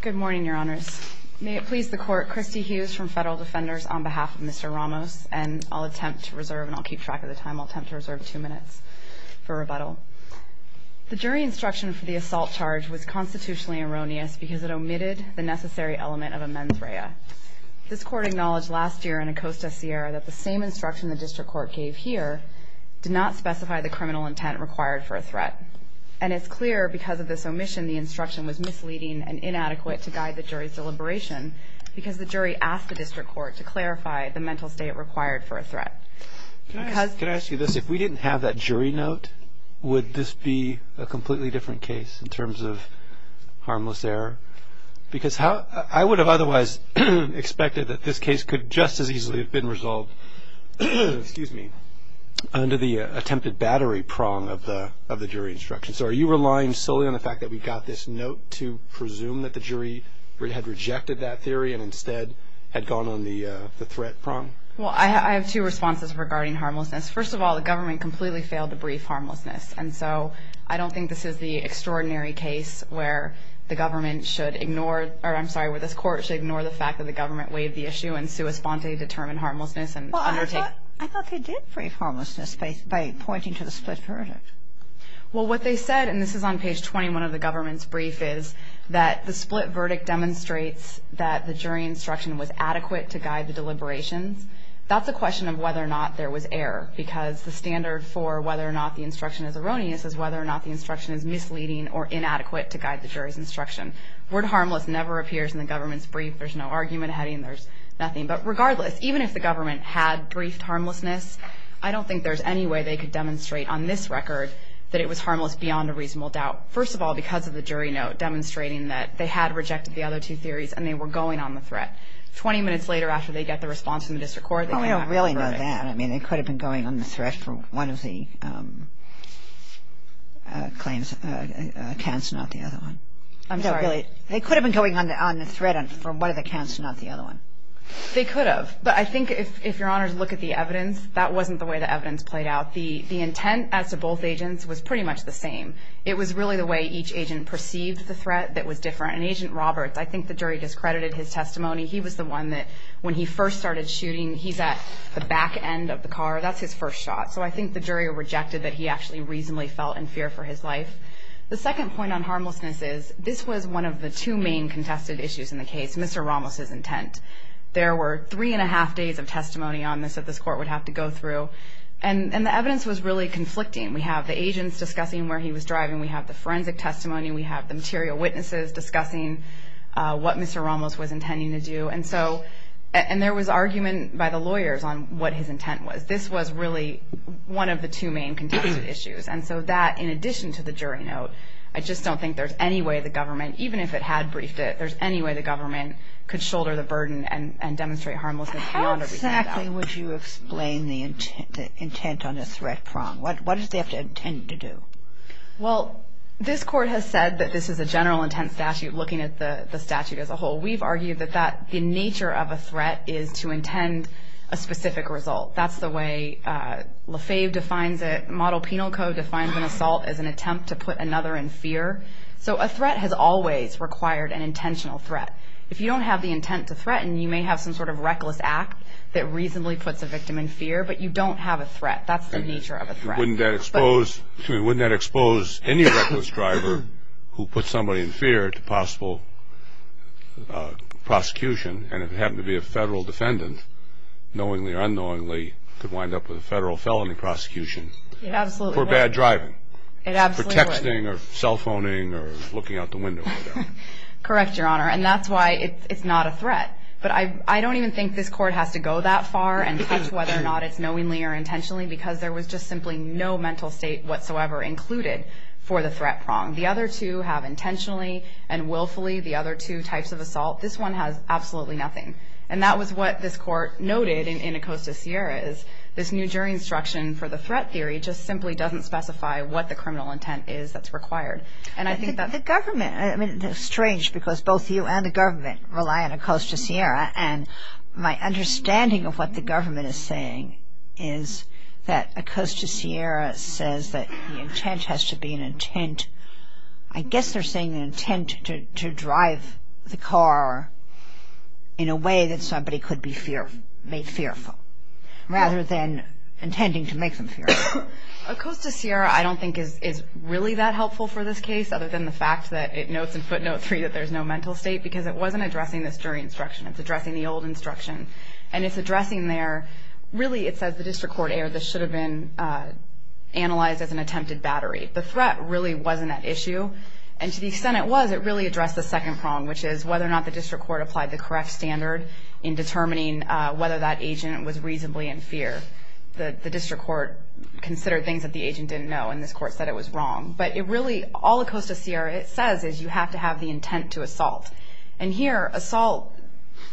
Good morning, your honors. May it please the court, Christy Hughes from Federal Defenders on behalf of Mr. Ramos, and I'll attempt to reserve, and I'll keep track of the time, I'll attempt to reserve two minutes for rebuttal. The jury instruction for the assault charge was constitutionally erroneous because it omitted the necessary element of a mens rea. This court acknowledged last year in Acosta, Sierra, that the same instruction the district court gave here did not specify the criminal intent required for a threat. And it's clear because of this omission, the instruction was misleading and inadequate to guide the jury's deliberation because the jury asked the district court to clarify the mental state required for a threat. Can I ask you this? If we didn't have that jury note, would this be a completely different case in terms of harmless error? Because I would have otherwise expected that this case could just as easily have been resolved under the attempted battery prong of the jury instruction. So are you relying solely on the fact that we got this note to presume that the jury had rejected that theory and instead had gone on the threat prong? Well, I have two responses regarding harmlessness. First of all, the government completely failed to brief harmlessness, and so I don't think this is the extraordinary case where the government should ignore, or I'm sorry, where this court should ignore the fact that the government weighed the issue and sua sponte determined harmlessness and undertake. Well, I thought they did brief harmlessness by pointing to the split verdict. Well, what they said, and this is on page 21 of the government's brief, is that the split verdict demonstrates that the jury instruction was adequate to guide the deliberations. That's a question of whether or not there was error because the standard for whether or not the instruction is erroneous is whether or not the instruction is misleading or inadequate to guide the jury's instruction. Word harmless never appears in the government's brief. There's no argument heading. There's nothing. But regardless, even if the government had briefed harmlessness, I don't think there's any way they could demonstrate on this record that it was harmless beyond a reasonable doubt. First of all, because of the jury note demonstrating that they had rejected the other two theories and they were going on the threat. Twenty minutes later after they get the response from the district court, they went on the threat. Well, we don't really know that. I mean, they could have been going on the threat for one of the claims, accounts, not the other one. I'm sorry. They could have been going on the threat for one of the accounts, not the other one. They could have. But I think if your honors look at the evidence, that wasn't the way the evidence played out. The intent as to both agents was pretty much the same. It was really the way each agent perceived the threat that was different. And Agent Roberts, I think the jury discredited his testimony. He was the one that when he first started shooting, he's at the back end of the car. That's his first shot. So I think the jury rejected that he actually reasonably felt in fear for his life. The second point on harmlessness is this was one of the two main contested issues in the case, Mr. Ramos' intent. There were three and a half days of testimony on this that this court would have to go through. And the evidence was really conflicting. We have the agents discussing where he was driving. We have the forensic testimony. We have the material witnesses discussing what Mr. Ramos was intending to do. And there was argument by the lawyers on what his intent was. This was really one of the two main contested issues. And so that, in addition to the jury note, I just don't think there's any way the government, even if it had briefed it, there's any way the government could shoulder the burden and demonstrate harmlessness beyond what we found out. How exactly would you explain the intent on a threat prong? What does they have to intend to do? Well, this court has said that this is a general intent statute looking at the statute as a whole. We've argued that the nature of a threat is to intend a specific result. That's the way LaFave defines it. Model Penal Code defines an assault as an attempt to put another in fear. So a threat has always required an intentional threat. If you don't have the intent to threaten, you may have some sort of reckless act that reasonably puts a victim in fear. But you don't have a threat. That's the nature of a threat. Wouldn't that expose any reckless driver who puts somebody in fear to possible prosecution? And if it happened to be a federal defendant, knowingly or unknowingly, could wind up with a federal felony prosecution. It absolutely would. For bad driving. It absolutely would. For texting or cell phoning or looking out the window or whatever. Correct, Your Honor. And that's why it's not a threat. But I don't even think this court has to go that far and judge whether or not it's knowingly or intentionally because there was just simply no mental state whatsoever included for the threat prong. The other two have intentionally and willfully, the other two types of assault. This one has absolutely nothing. And that was what this court noted in Acosta-Sierra is this new jury instruction for the threat theory just simply doesn't specify what the criminal intent is that's required. The government, I mean, it's strange because both you and the government rely on Acosta-Sierra. And my understanding of what the government is saying is that Acosta-Sierra says that the intent has to be an intent. I guess they're saying an intent to drive the car in a way that somebody could be made fearful rather than intending to make them fearful. Acosta-Sierra I don't think is really that helpful for this case other than the fact that it notes in footnote 3 that there's no mental state because it wasn't addressing this jury instruction. It's addressing the old instruction. And it's addressing their, really it says the district court error. This should have been analyzed as an attempted battery. The threat really wasn't at issue. And to the extent it was, it really addressed the second prong, which is whether or not the district court applied the correct standard in determining whether that agent was reasonably in fear. The district court considered things that the agent didn't know, and this court said it was wrong. But it really, all Acosta-Sierra says is you have to have the intent to assault. And here assault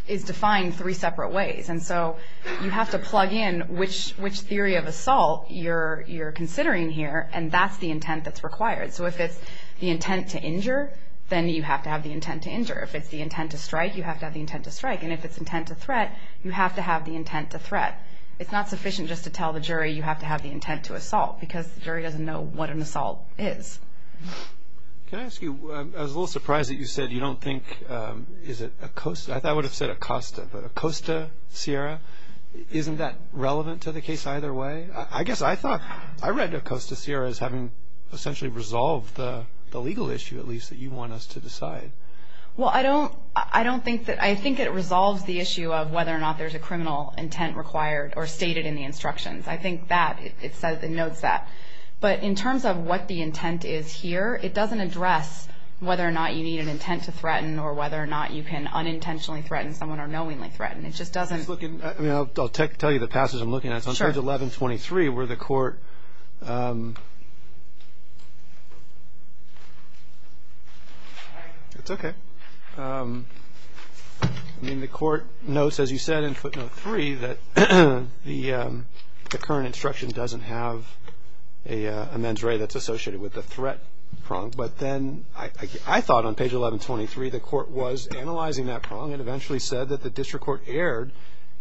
is defined three separate ways. And so you have to plug in which theory of assault you're considering here, and that's the intent that's required. So if it's the intent to injure, then you have to have the intent to injure. If it's the intent to strike, you have to have the intent to strike. And if it's intent to threat, you have to have the intent to threat. It's not sufficient just to tell the jury you have to have the intent to assault because the jury doesn't know what an assault is. Can I ask you, I was a little surprised that you said you don't think, is it Acosta, I thought it would have said Acosta, but Acosta-Sierra, isn't that relevant to the case either way? I guess I thought, I read Acosta-Sierra as having essentially resolved the legal issue, at least, that you want us to decide. Well, I don't think that, I think it resolves the issue of whether or not there's a criminal intent required or stated in the instructions. I think that, it notes that. But in terms of what the intent is here, it doesn't address whether or not you need an intent to threaten or whether or not you can unintentionally threaten someone or knowingly threaten. It just doesn't. I'll tell you the passage I'm looking at. It's on page 1123 where the court, it's okay. I mean, the court notes, as you said in footnote 3, that the current instruction doesn't have a mens rea that's associated with the threat prong. But then I thought on page 1123 the court was analyzing that prong and eventually said that the district court erred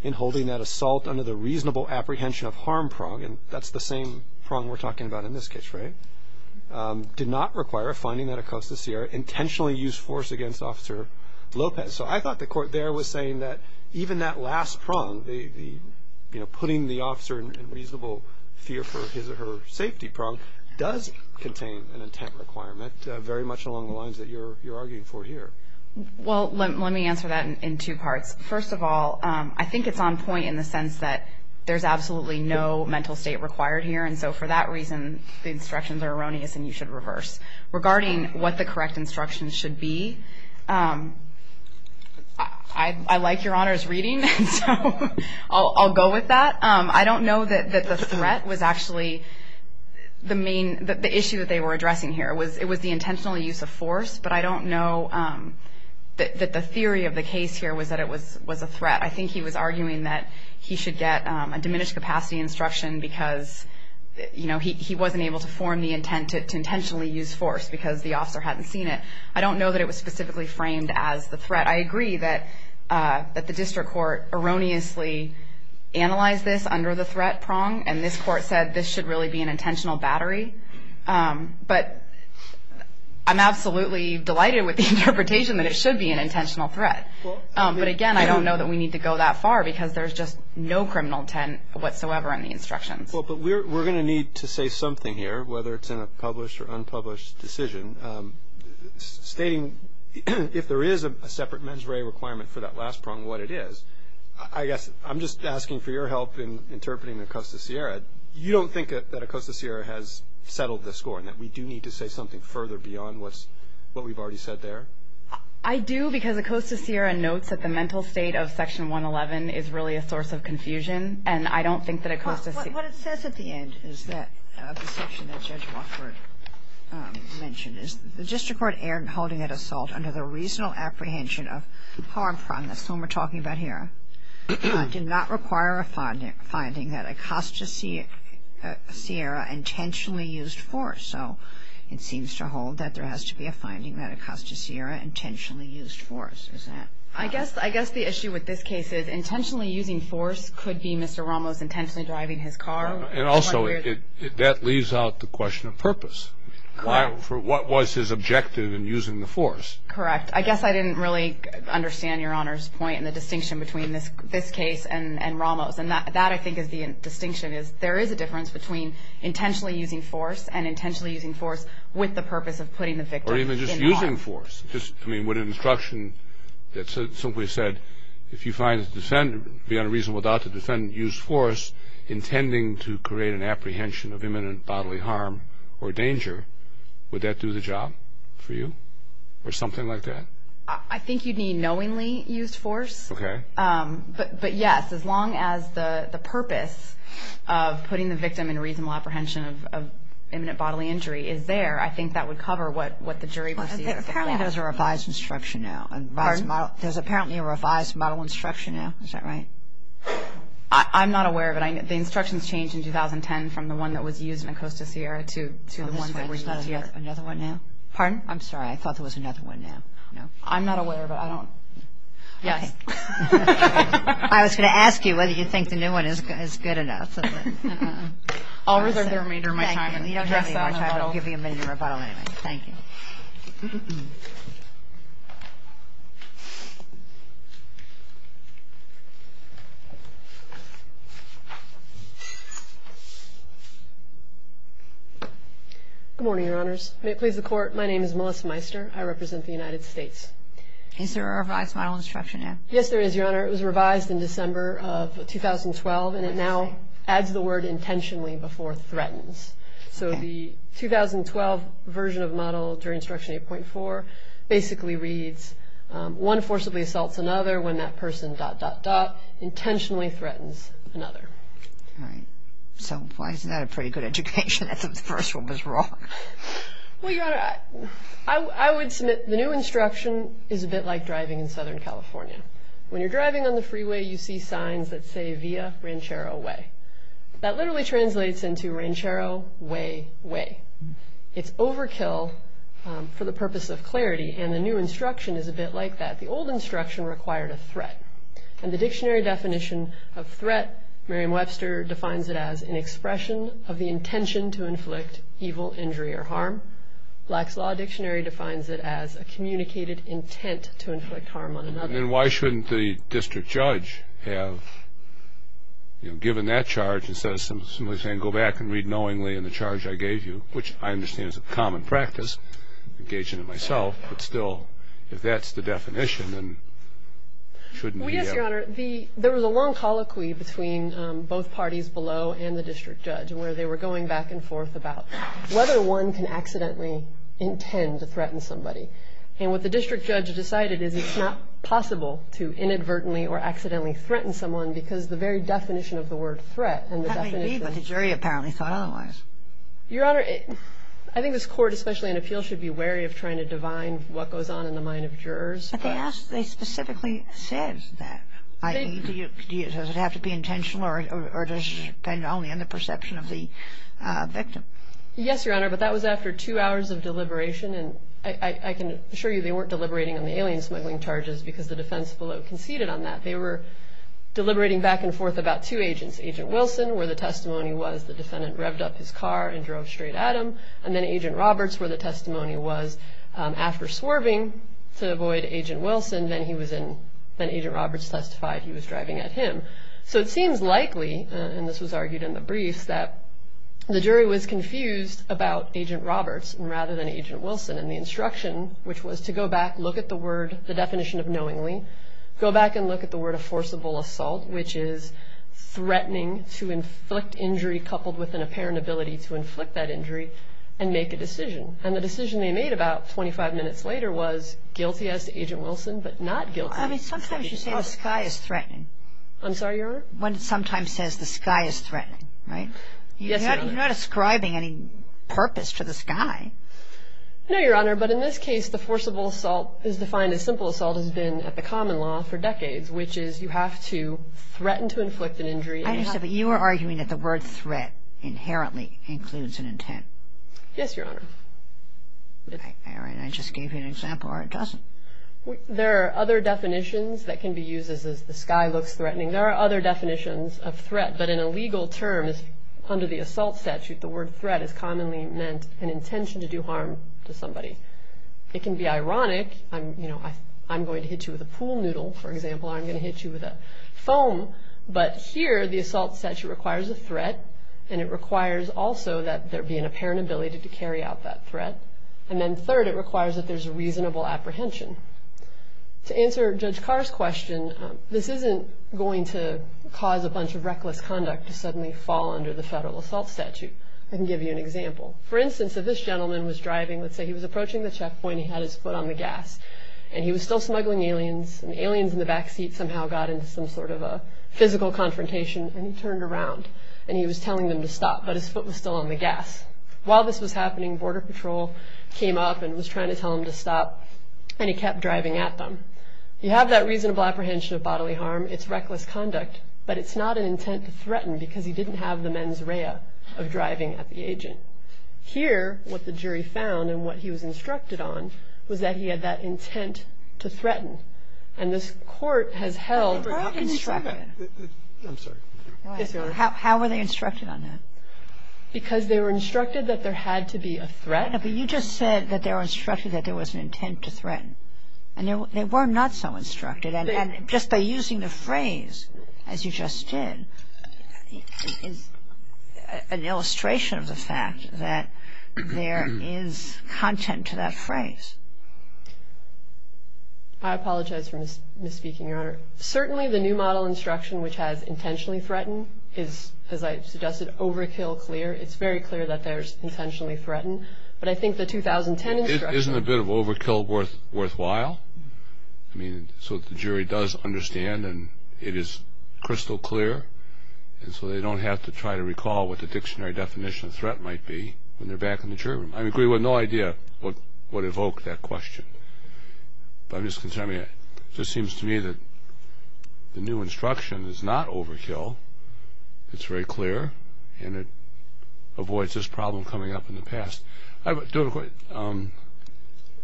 in holding that assault under the reasonable apprehension of harm prong, and that's the same prong we're talking about in this case, right, did not require a finding that Acosta-Sierra intentionally used force against Officer Lopez. So I thought the court there was saying that even that last prong, the putting the officer in reasonable fear for his or her safety prong, does contain an intent requirement very much along the lines that you're arguing for here. Well, let me answer that in two parts. First of all, I think it's on point in the sense that there's absolutely no mental state required here, and so for that reason the instructions are erroneous and you should reverse. Regarding what the correct instructions should be, I like Your Honor's reading, so I'll go with that. I don't know that the threat was actually the main, the issue that they were addressing here. It was the intentional use of force, but I don't know that the theory of the case here was that it was a threat. I think he was arguing that he should get a diminished capacity instruction because, you know, he wasn't able to form the intent to intentionally use force because the officer hadn't seen it. I don't know that it was specifically framed as the threat. I agree that the district court erroneously analyzed this under the threat prong, and this court said this should really be an intentional battery. But I'm absolutely delighted with the interpretation that it should be an intentional threat. But again, I don't know that we need to go that far because there's just no criminal intent whatsoever in the instructions. Well, but we're going to need to say something here, whether it's in a published or unpublished decision. Stating if there is a separate mens rea requirement for that last prong, what it is, I guess I'm just asking for your help in interpreting Acosta Sierra. You don't think that Acosta Sierra has settled the score and that we do need to say something further beyond what we've already said there? I do because Acosta Sierra notes that the mental state of Section 111 is really a source of confusion, and I don't think that Acosta Sierra What it says at the end of the section that Judge Wofford mentioned is the district court erred in holding that assault under the reasonable apprehension of harm prong. That's the one we're talking about here. Acosta Sierra did not require a finding that Acosta Sierra intentionally used force, so it seems to hold that there has to be a finding that Acosta Sierra intentionally used force. I guess the issue with this case is intentionally using force could be Mr. Ramos intentionally driving his car. And also that leaves out the question of purpose. What was his objective in using the force? Correct. I guess I didn't really understand Your Honor's point in the distinction between this case and Ramos, and that, I think, is the distinction. There is a difference between intentionally using force and intentionally using force with the purpose of putting the victim in harm. Or even just using force. I mean, would an instruction that simply said, if you find the defendant to be unreasonable to defend, use force, intending to create an apprehension of imminent bodily harm or danger, would that do the job for you or something like that? I think you'd need knowingly used force. Okay. But yes, as long as the purpose of putting the victim in reasonable apprehension of imminent bodily injury is there, I think that would cover what the jury perceives. Apparently there's a revised instruction now. Pardon? There's apparently a revised model instruction now. Is that right? I'm not aware of it. I'm sorry. The instructions changed in 2010 from the one that was used in Acosta Sierra to the one that was used here. Is there another one now? Pardon? I'm sorry. I thought there was another one now. I'm not aware of it. I don't. Yes. I was going to ask you whether you think the new one is good enough. I'll reserve the remainder of my time and address that in a rebuttal. Thank you. Good morning, Your Honors. May it please the Court, my name is Melissa Meister. I represent the United States. Is there a revised model instruction now? Yes, there is, Your Honor. It was revised in December of 2012, and it now adds the word intentionally before threatens. So the 2012 version of model during Instruction 8.4 basically reads one forcibly assaults another when that person dot, dot, dot intentionally threatens another. All right. So why isn't that a pretty good education? I thought the first one was wrong. Well, Your Honor, I would submit the new instruction is a bit like driving in Southern California. When you're driving on the freeway, you see signs that say via Ranchero Way. That literally translates into Ranchero Way Way. It's overkill for the purpose of clarity, and the new instruction is a bit like that. The old instruction required a threat, and the dictionary definition of threat, Merriam-Webster defines it as an expression of the intention to inflict evil, injury, or harm. Black's Law Dictionary defines it as a communicated intent to inflict harm on another. And then why shouldn't the district judge have given that charge instead of simply saying go back and read knowingly in the charge I gave you, which I understand is a common practice, engage in it myself, but still if that's the definition, then shouldn't he have? Well, yes, Your Honor. There was a long colloquy between both parties below and the district judge where they were going back and forth about whether one can accidentally intend to threaten somebody. And what the district judge decided is it's not possible to inadvertently or accidentally threaten someone because the very definition of the word threat. That may be, but the jury apparently thought otherwise. Your Honor, I think this court, especially in appeals, should be wary of trying to divine what goes on in the mind of jurors. But they specifically said that. Does it have to be intentional or does it depend only on the perception of the victim? Yes, Your Honor, but that was after two hours of deliberation, and I can assure you they weren't deliberating on the alien smuggling charges because the defense below conceded on that. They were deliberating back and forth about two agents, Agent Wilson where the testimony was the defendant revved up his car and drove straight at him, and then Agent Roberts where the testimony was after swerving to avoid Agent Wilson, then Agent Roberts testified he was driving at him. So it seems likely, and this was argued in the briefs, that the jury was confused about Agent Roberts rather than Agent Wilson, and the instruction, which was to go back, look at the word, the definition of knowingly, go back and look at the word of forcible assault, which is threatening to inflict injury coupled with an apparent ability to inflict that injury and make a decision, and the decision they made about 25 minutes later was guilty as to Agent Wilson but not guilty. I mean, sometimes you say the sky is threatening. I'm sorry, Your Honor? When it sometimes says the sky is threatening, right? Yes, Your Honor. You're not ascribing any purpose to the sky. No, Your Honor, but in this case, the forcible assault is defined as simple assault has been at the common law for decades, which is you have to threaten to inflict an injury. I understand, but you are arguing that the word threat inherently includes an intent. Yes, Your Honor. All right, I just gave you an example or it doesn't. There are other definitions that can be used as the sky looks threatening. There are other definitions of threat, but in a legal term, under the assault statute, the word threat is commonly meant an intention to do harm to somebody. It can be ironic. I'm going to hit you with a pool noodle, for example, or I'm going to hit you with a foam, but here the assault statute requires a threat, and it requires also that there be an apparent ability to carry out that threat, and then third, it requires that there's a reasonable apprehension. To answer Judge Carr's question, this isn't going to cause a bunch of reckless conduct to suddenly fall under the federal assault statute. I can give you an example. For instance, if this gentleman was driving, let's say he was approaching the checkpoint, he had his foot on the gas, and he was still smuggling aliens, and the aliens in the backseat somehow got into some sort of a physical confrontation, and he turned around, and he was telling them to stop, but his foot was still on the gas. While this was happening, Border Patrol came up and was trying to tell him to stop, and he kept driving at them. You have that reasonable apprehension of bodily harm. It's reckless conduct, but it's not an intent to threaten because he didn't have the mens rea of driving at the agent. Here, what the jury found and what he was instructed on was that he had that intent to threaten, and this court has held that. How did he say that? I'm sorry. Yes, Your Honor. How were they instructed on that? Because they were instructed that there had to be a threat. But you just said that they were instructed that there was an intent to threaten, and they were not so instructed, and just by using the phrase, as you just did, is an illustration of the fact that there is content to that phrase. I apologize for misspeaking, Your Honor. Certainly the new model instruction, which has intentionally threatened, is, as I suggested, overkill clear. It's very clear that there's intentionally threatened. But I think the 2010 instruction. Isn't a bit of overkill worthwhile? I mean, so the jury does understand, and it is crystal clear, and so they don't have to try to recall what the dictionary definition of threat might be when they're back in the jury room. I agree with no idea what evoked that question. But I'm just concerned. It just seems to me that the new instruction is not overkill. It's very clear, and it avoids this problem coming up in the past.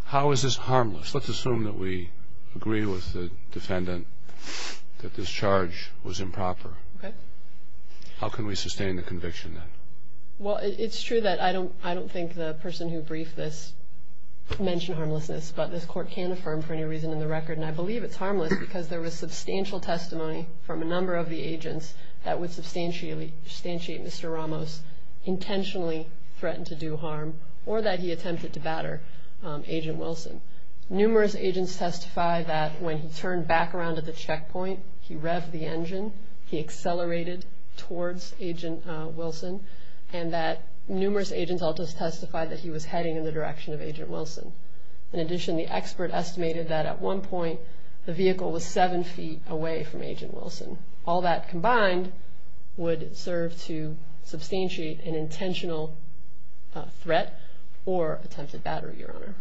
How is this harmless? Let's assume that we agree with the defendant that this charge was improper. Okay. How can we sustain the conviction then? Well, it's true that I don't think the person who briefed this mentioned harmlessness, but this court can affirm for any reason in the record, and I believe it's harmless because there was substantial testimony from a number of the agents that would substantiate Mr. Ramos intentionally threatened to do harm or that he attempted to batter Agent Wilson. Numerous agents testify that when he turned back around at the checkpoint, he revved the engine, he accelerated towards Agent Wilson, and that numerous agents also testified that he was heading in the direction of Agent Wilson. In addition, the expert estimated that at one point the vehicle was seven feet away from Agent Wilson. All that combined would serve to substantiate an intentional threat or attempted battery, Your Honor.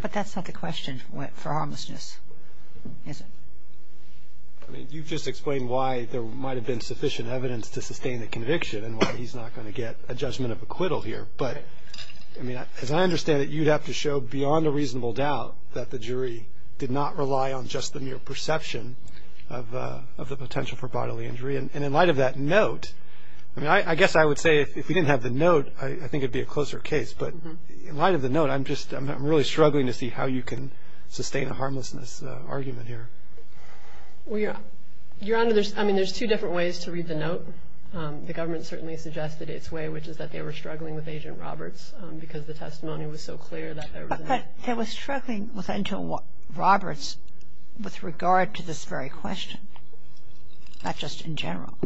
But that's not the question for harmlessness, is it? I mean, you've just explained why there might have been sufficient evidence to sustain the conviction and why he's not going to get a judgment of acquittal here. But, I mean, as I understand it, you'd have to show beyond a reasonable doubt that the jury did not rely on just the mere perception of the potential for bodily injury. And in light of that note, I mean, I guess I would say if we didn't have the note, I think it would be a closer case. But in light of the note, I'm really struggling to see how you can sustain a harmlessness argument here. Well, Your Honor, I mean, there's two different ways to read the note. The government certainly suggested its way, which is that they were struggling with Agent Roberts because the testimony was so clear that there was no – But they were struggling with Agent Roberts with regard to this very question, not just in general.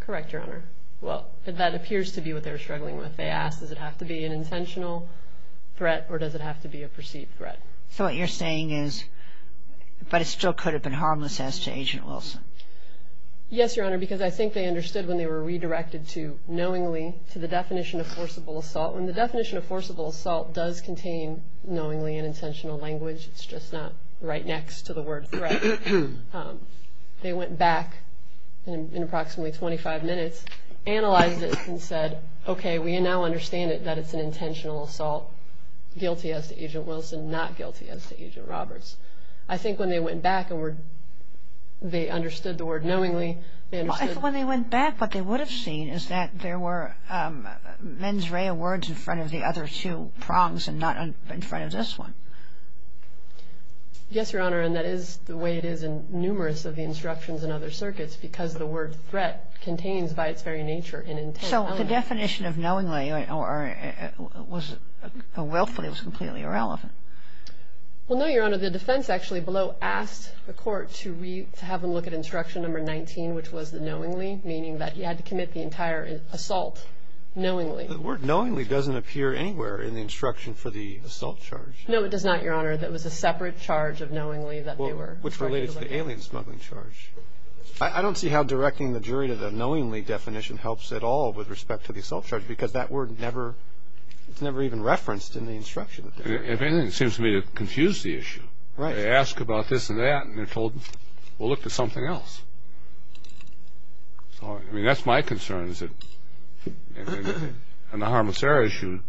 Correct, Your Honor. Well, that appears to be what they were struggling with. They asked, does it have to be an intentional threat or does it have to be a perceived threat? So what you're saying is, but it still could have been harmless as to Agent Wilson. Yes, Your Honor, because I think they understood when they were redirected to knowingly, to the definition of forcible assault. When the definition of forcible assault does contain knowingly and intentional language, it's just not right next to the word threat. They went back in approximately 25 minutes, analyzed it, and said, okay, we now understand that it's an intentional assault, guilty as to Agent Wilson, not guilty as to Agent Roberts. I think when they went back and they understood the word knowingly, they understood – When they went back, what they would have seen is that there were mens rea words in front of the other two prongs and not in front of this one. Yes, Your Honor, and that is the way it is in numerous of the instructions in other circuits because the word threat contains by its very nature an intentional – So the definition of knowingly or willfully was completely irrelevant. Well, no, Your Honor. The defense actually below asked the court to have them look at instruction number 19, which was the knowingly, meaning that you had to commit the entire assault knowingly. The word knowingly doesn't appear anywhere in the instruction for the assault charge. No, it does not, Your Honor. That was a separate charge of knowingly that they were – Well, which related to the alien smuggling charge. I don't see how directing the jury to the knowingly definition helps at all with respect to the assault charge because that word never – it's never even referenced in the instruction. If anything, it seems to me to confuse the issue. Right. They ask about this and that and they're told, well, look at something else. I mean, that's my concern is that on the harmless error issue,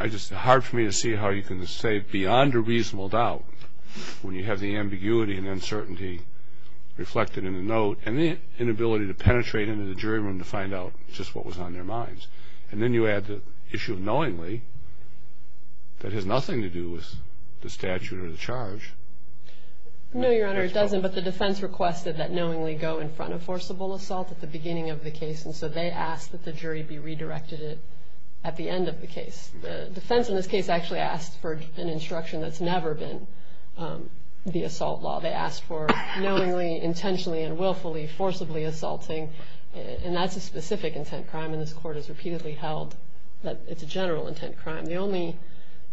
it's just hard for me to see how you can say beyond a reasonable doubt when you have the ambiguity and uncertainty reflected in the note and the inability to penetrate into the jury room to find out just what was on their minds. And then you add the issue of knowingly that has nothing to do with the statute or the charge. No, Your Honor, it doesn't. But the defense requested that knowingly go in front of forcible assault at the beginning of the case, and so they asked that the jury be redirected at the end of the case. The defense in this case actually asked for an instruction that's never been the assault law. They asked for knowingly, intentionally, and willfully, forcibly assaulting, and that's a specific intent crime, and this Court has repeatedly held that it's a general intent crime. The only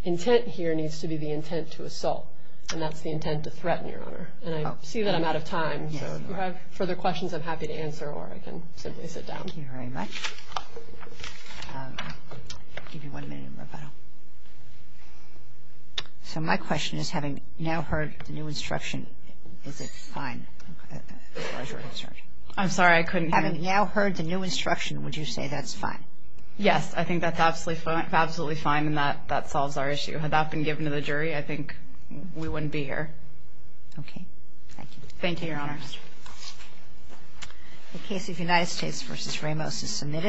intent here needs to be the intent to assault, and that's the intent to threaten, Your Honor. And I see that I'm out of time, so if you have further questions, I'm happy to answer or I can simply sit down. Thank you very much. I'll give you one minute in rebuttal. So my question is, having now heard the new instruction, is it fine as far as you're concerned? I'm sorry, I couldn't hear. Having now heard the new instruction, would you say that's fine? Yes, I think that's absolutely fine, and that solves our issue. Had that been given to the jury, I think we wouldn't be here. Okay. Thank you. Thank you, Your Honor. The case of United States v. Ramos is submitted.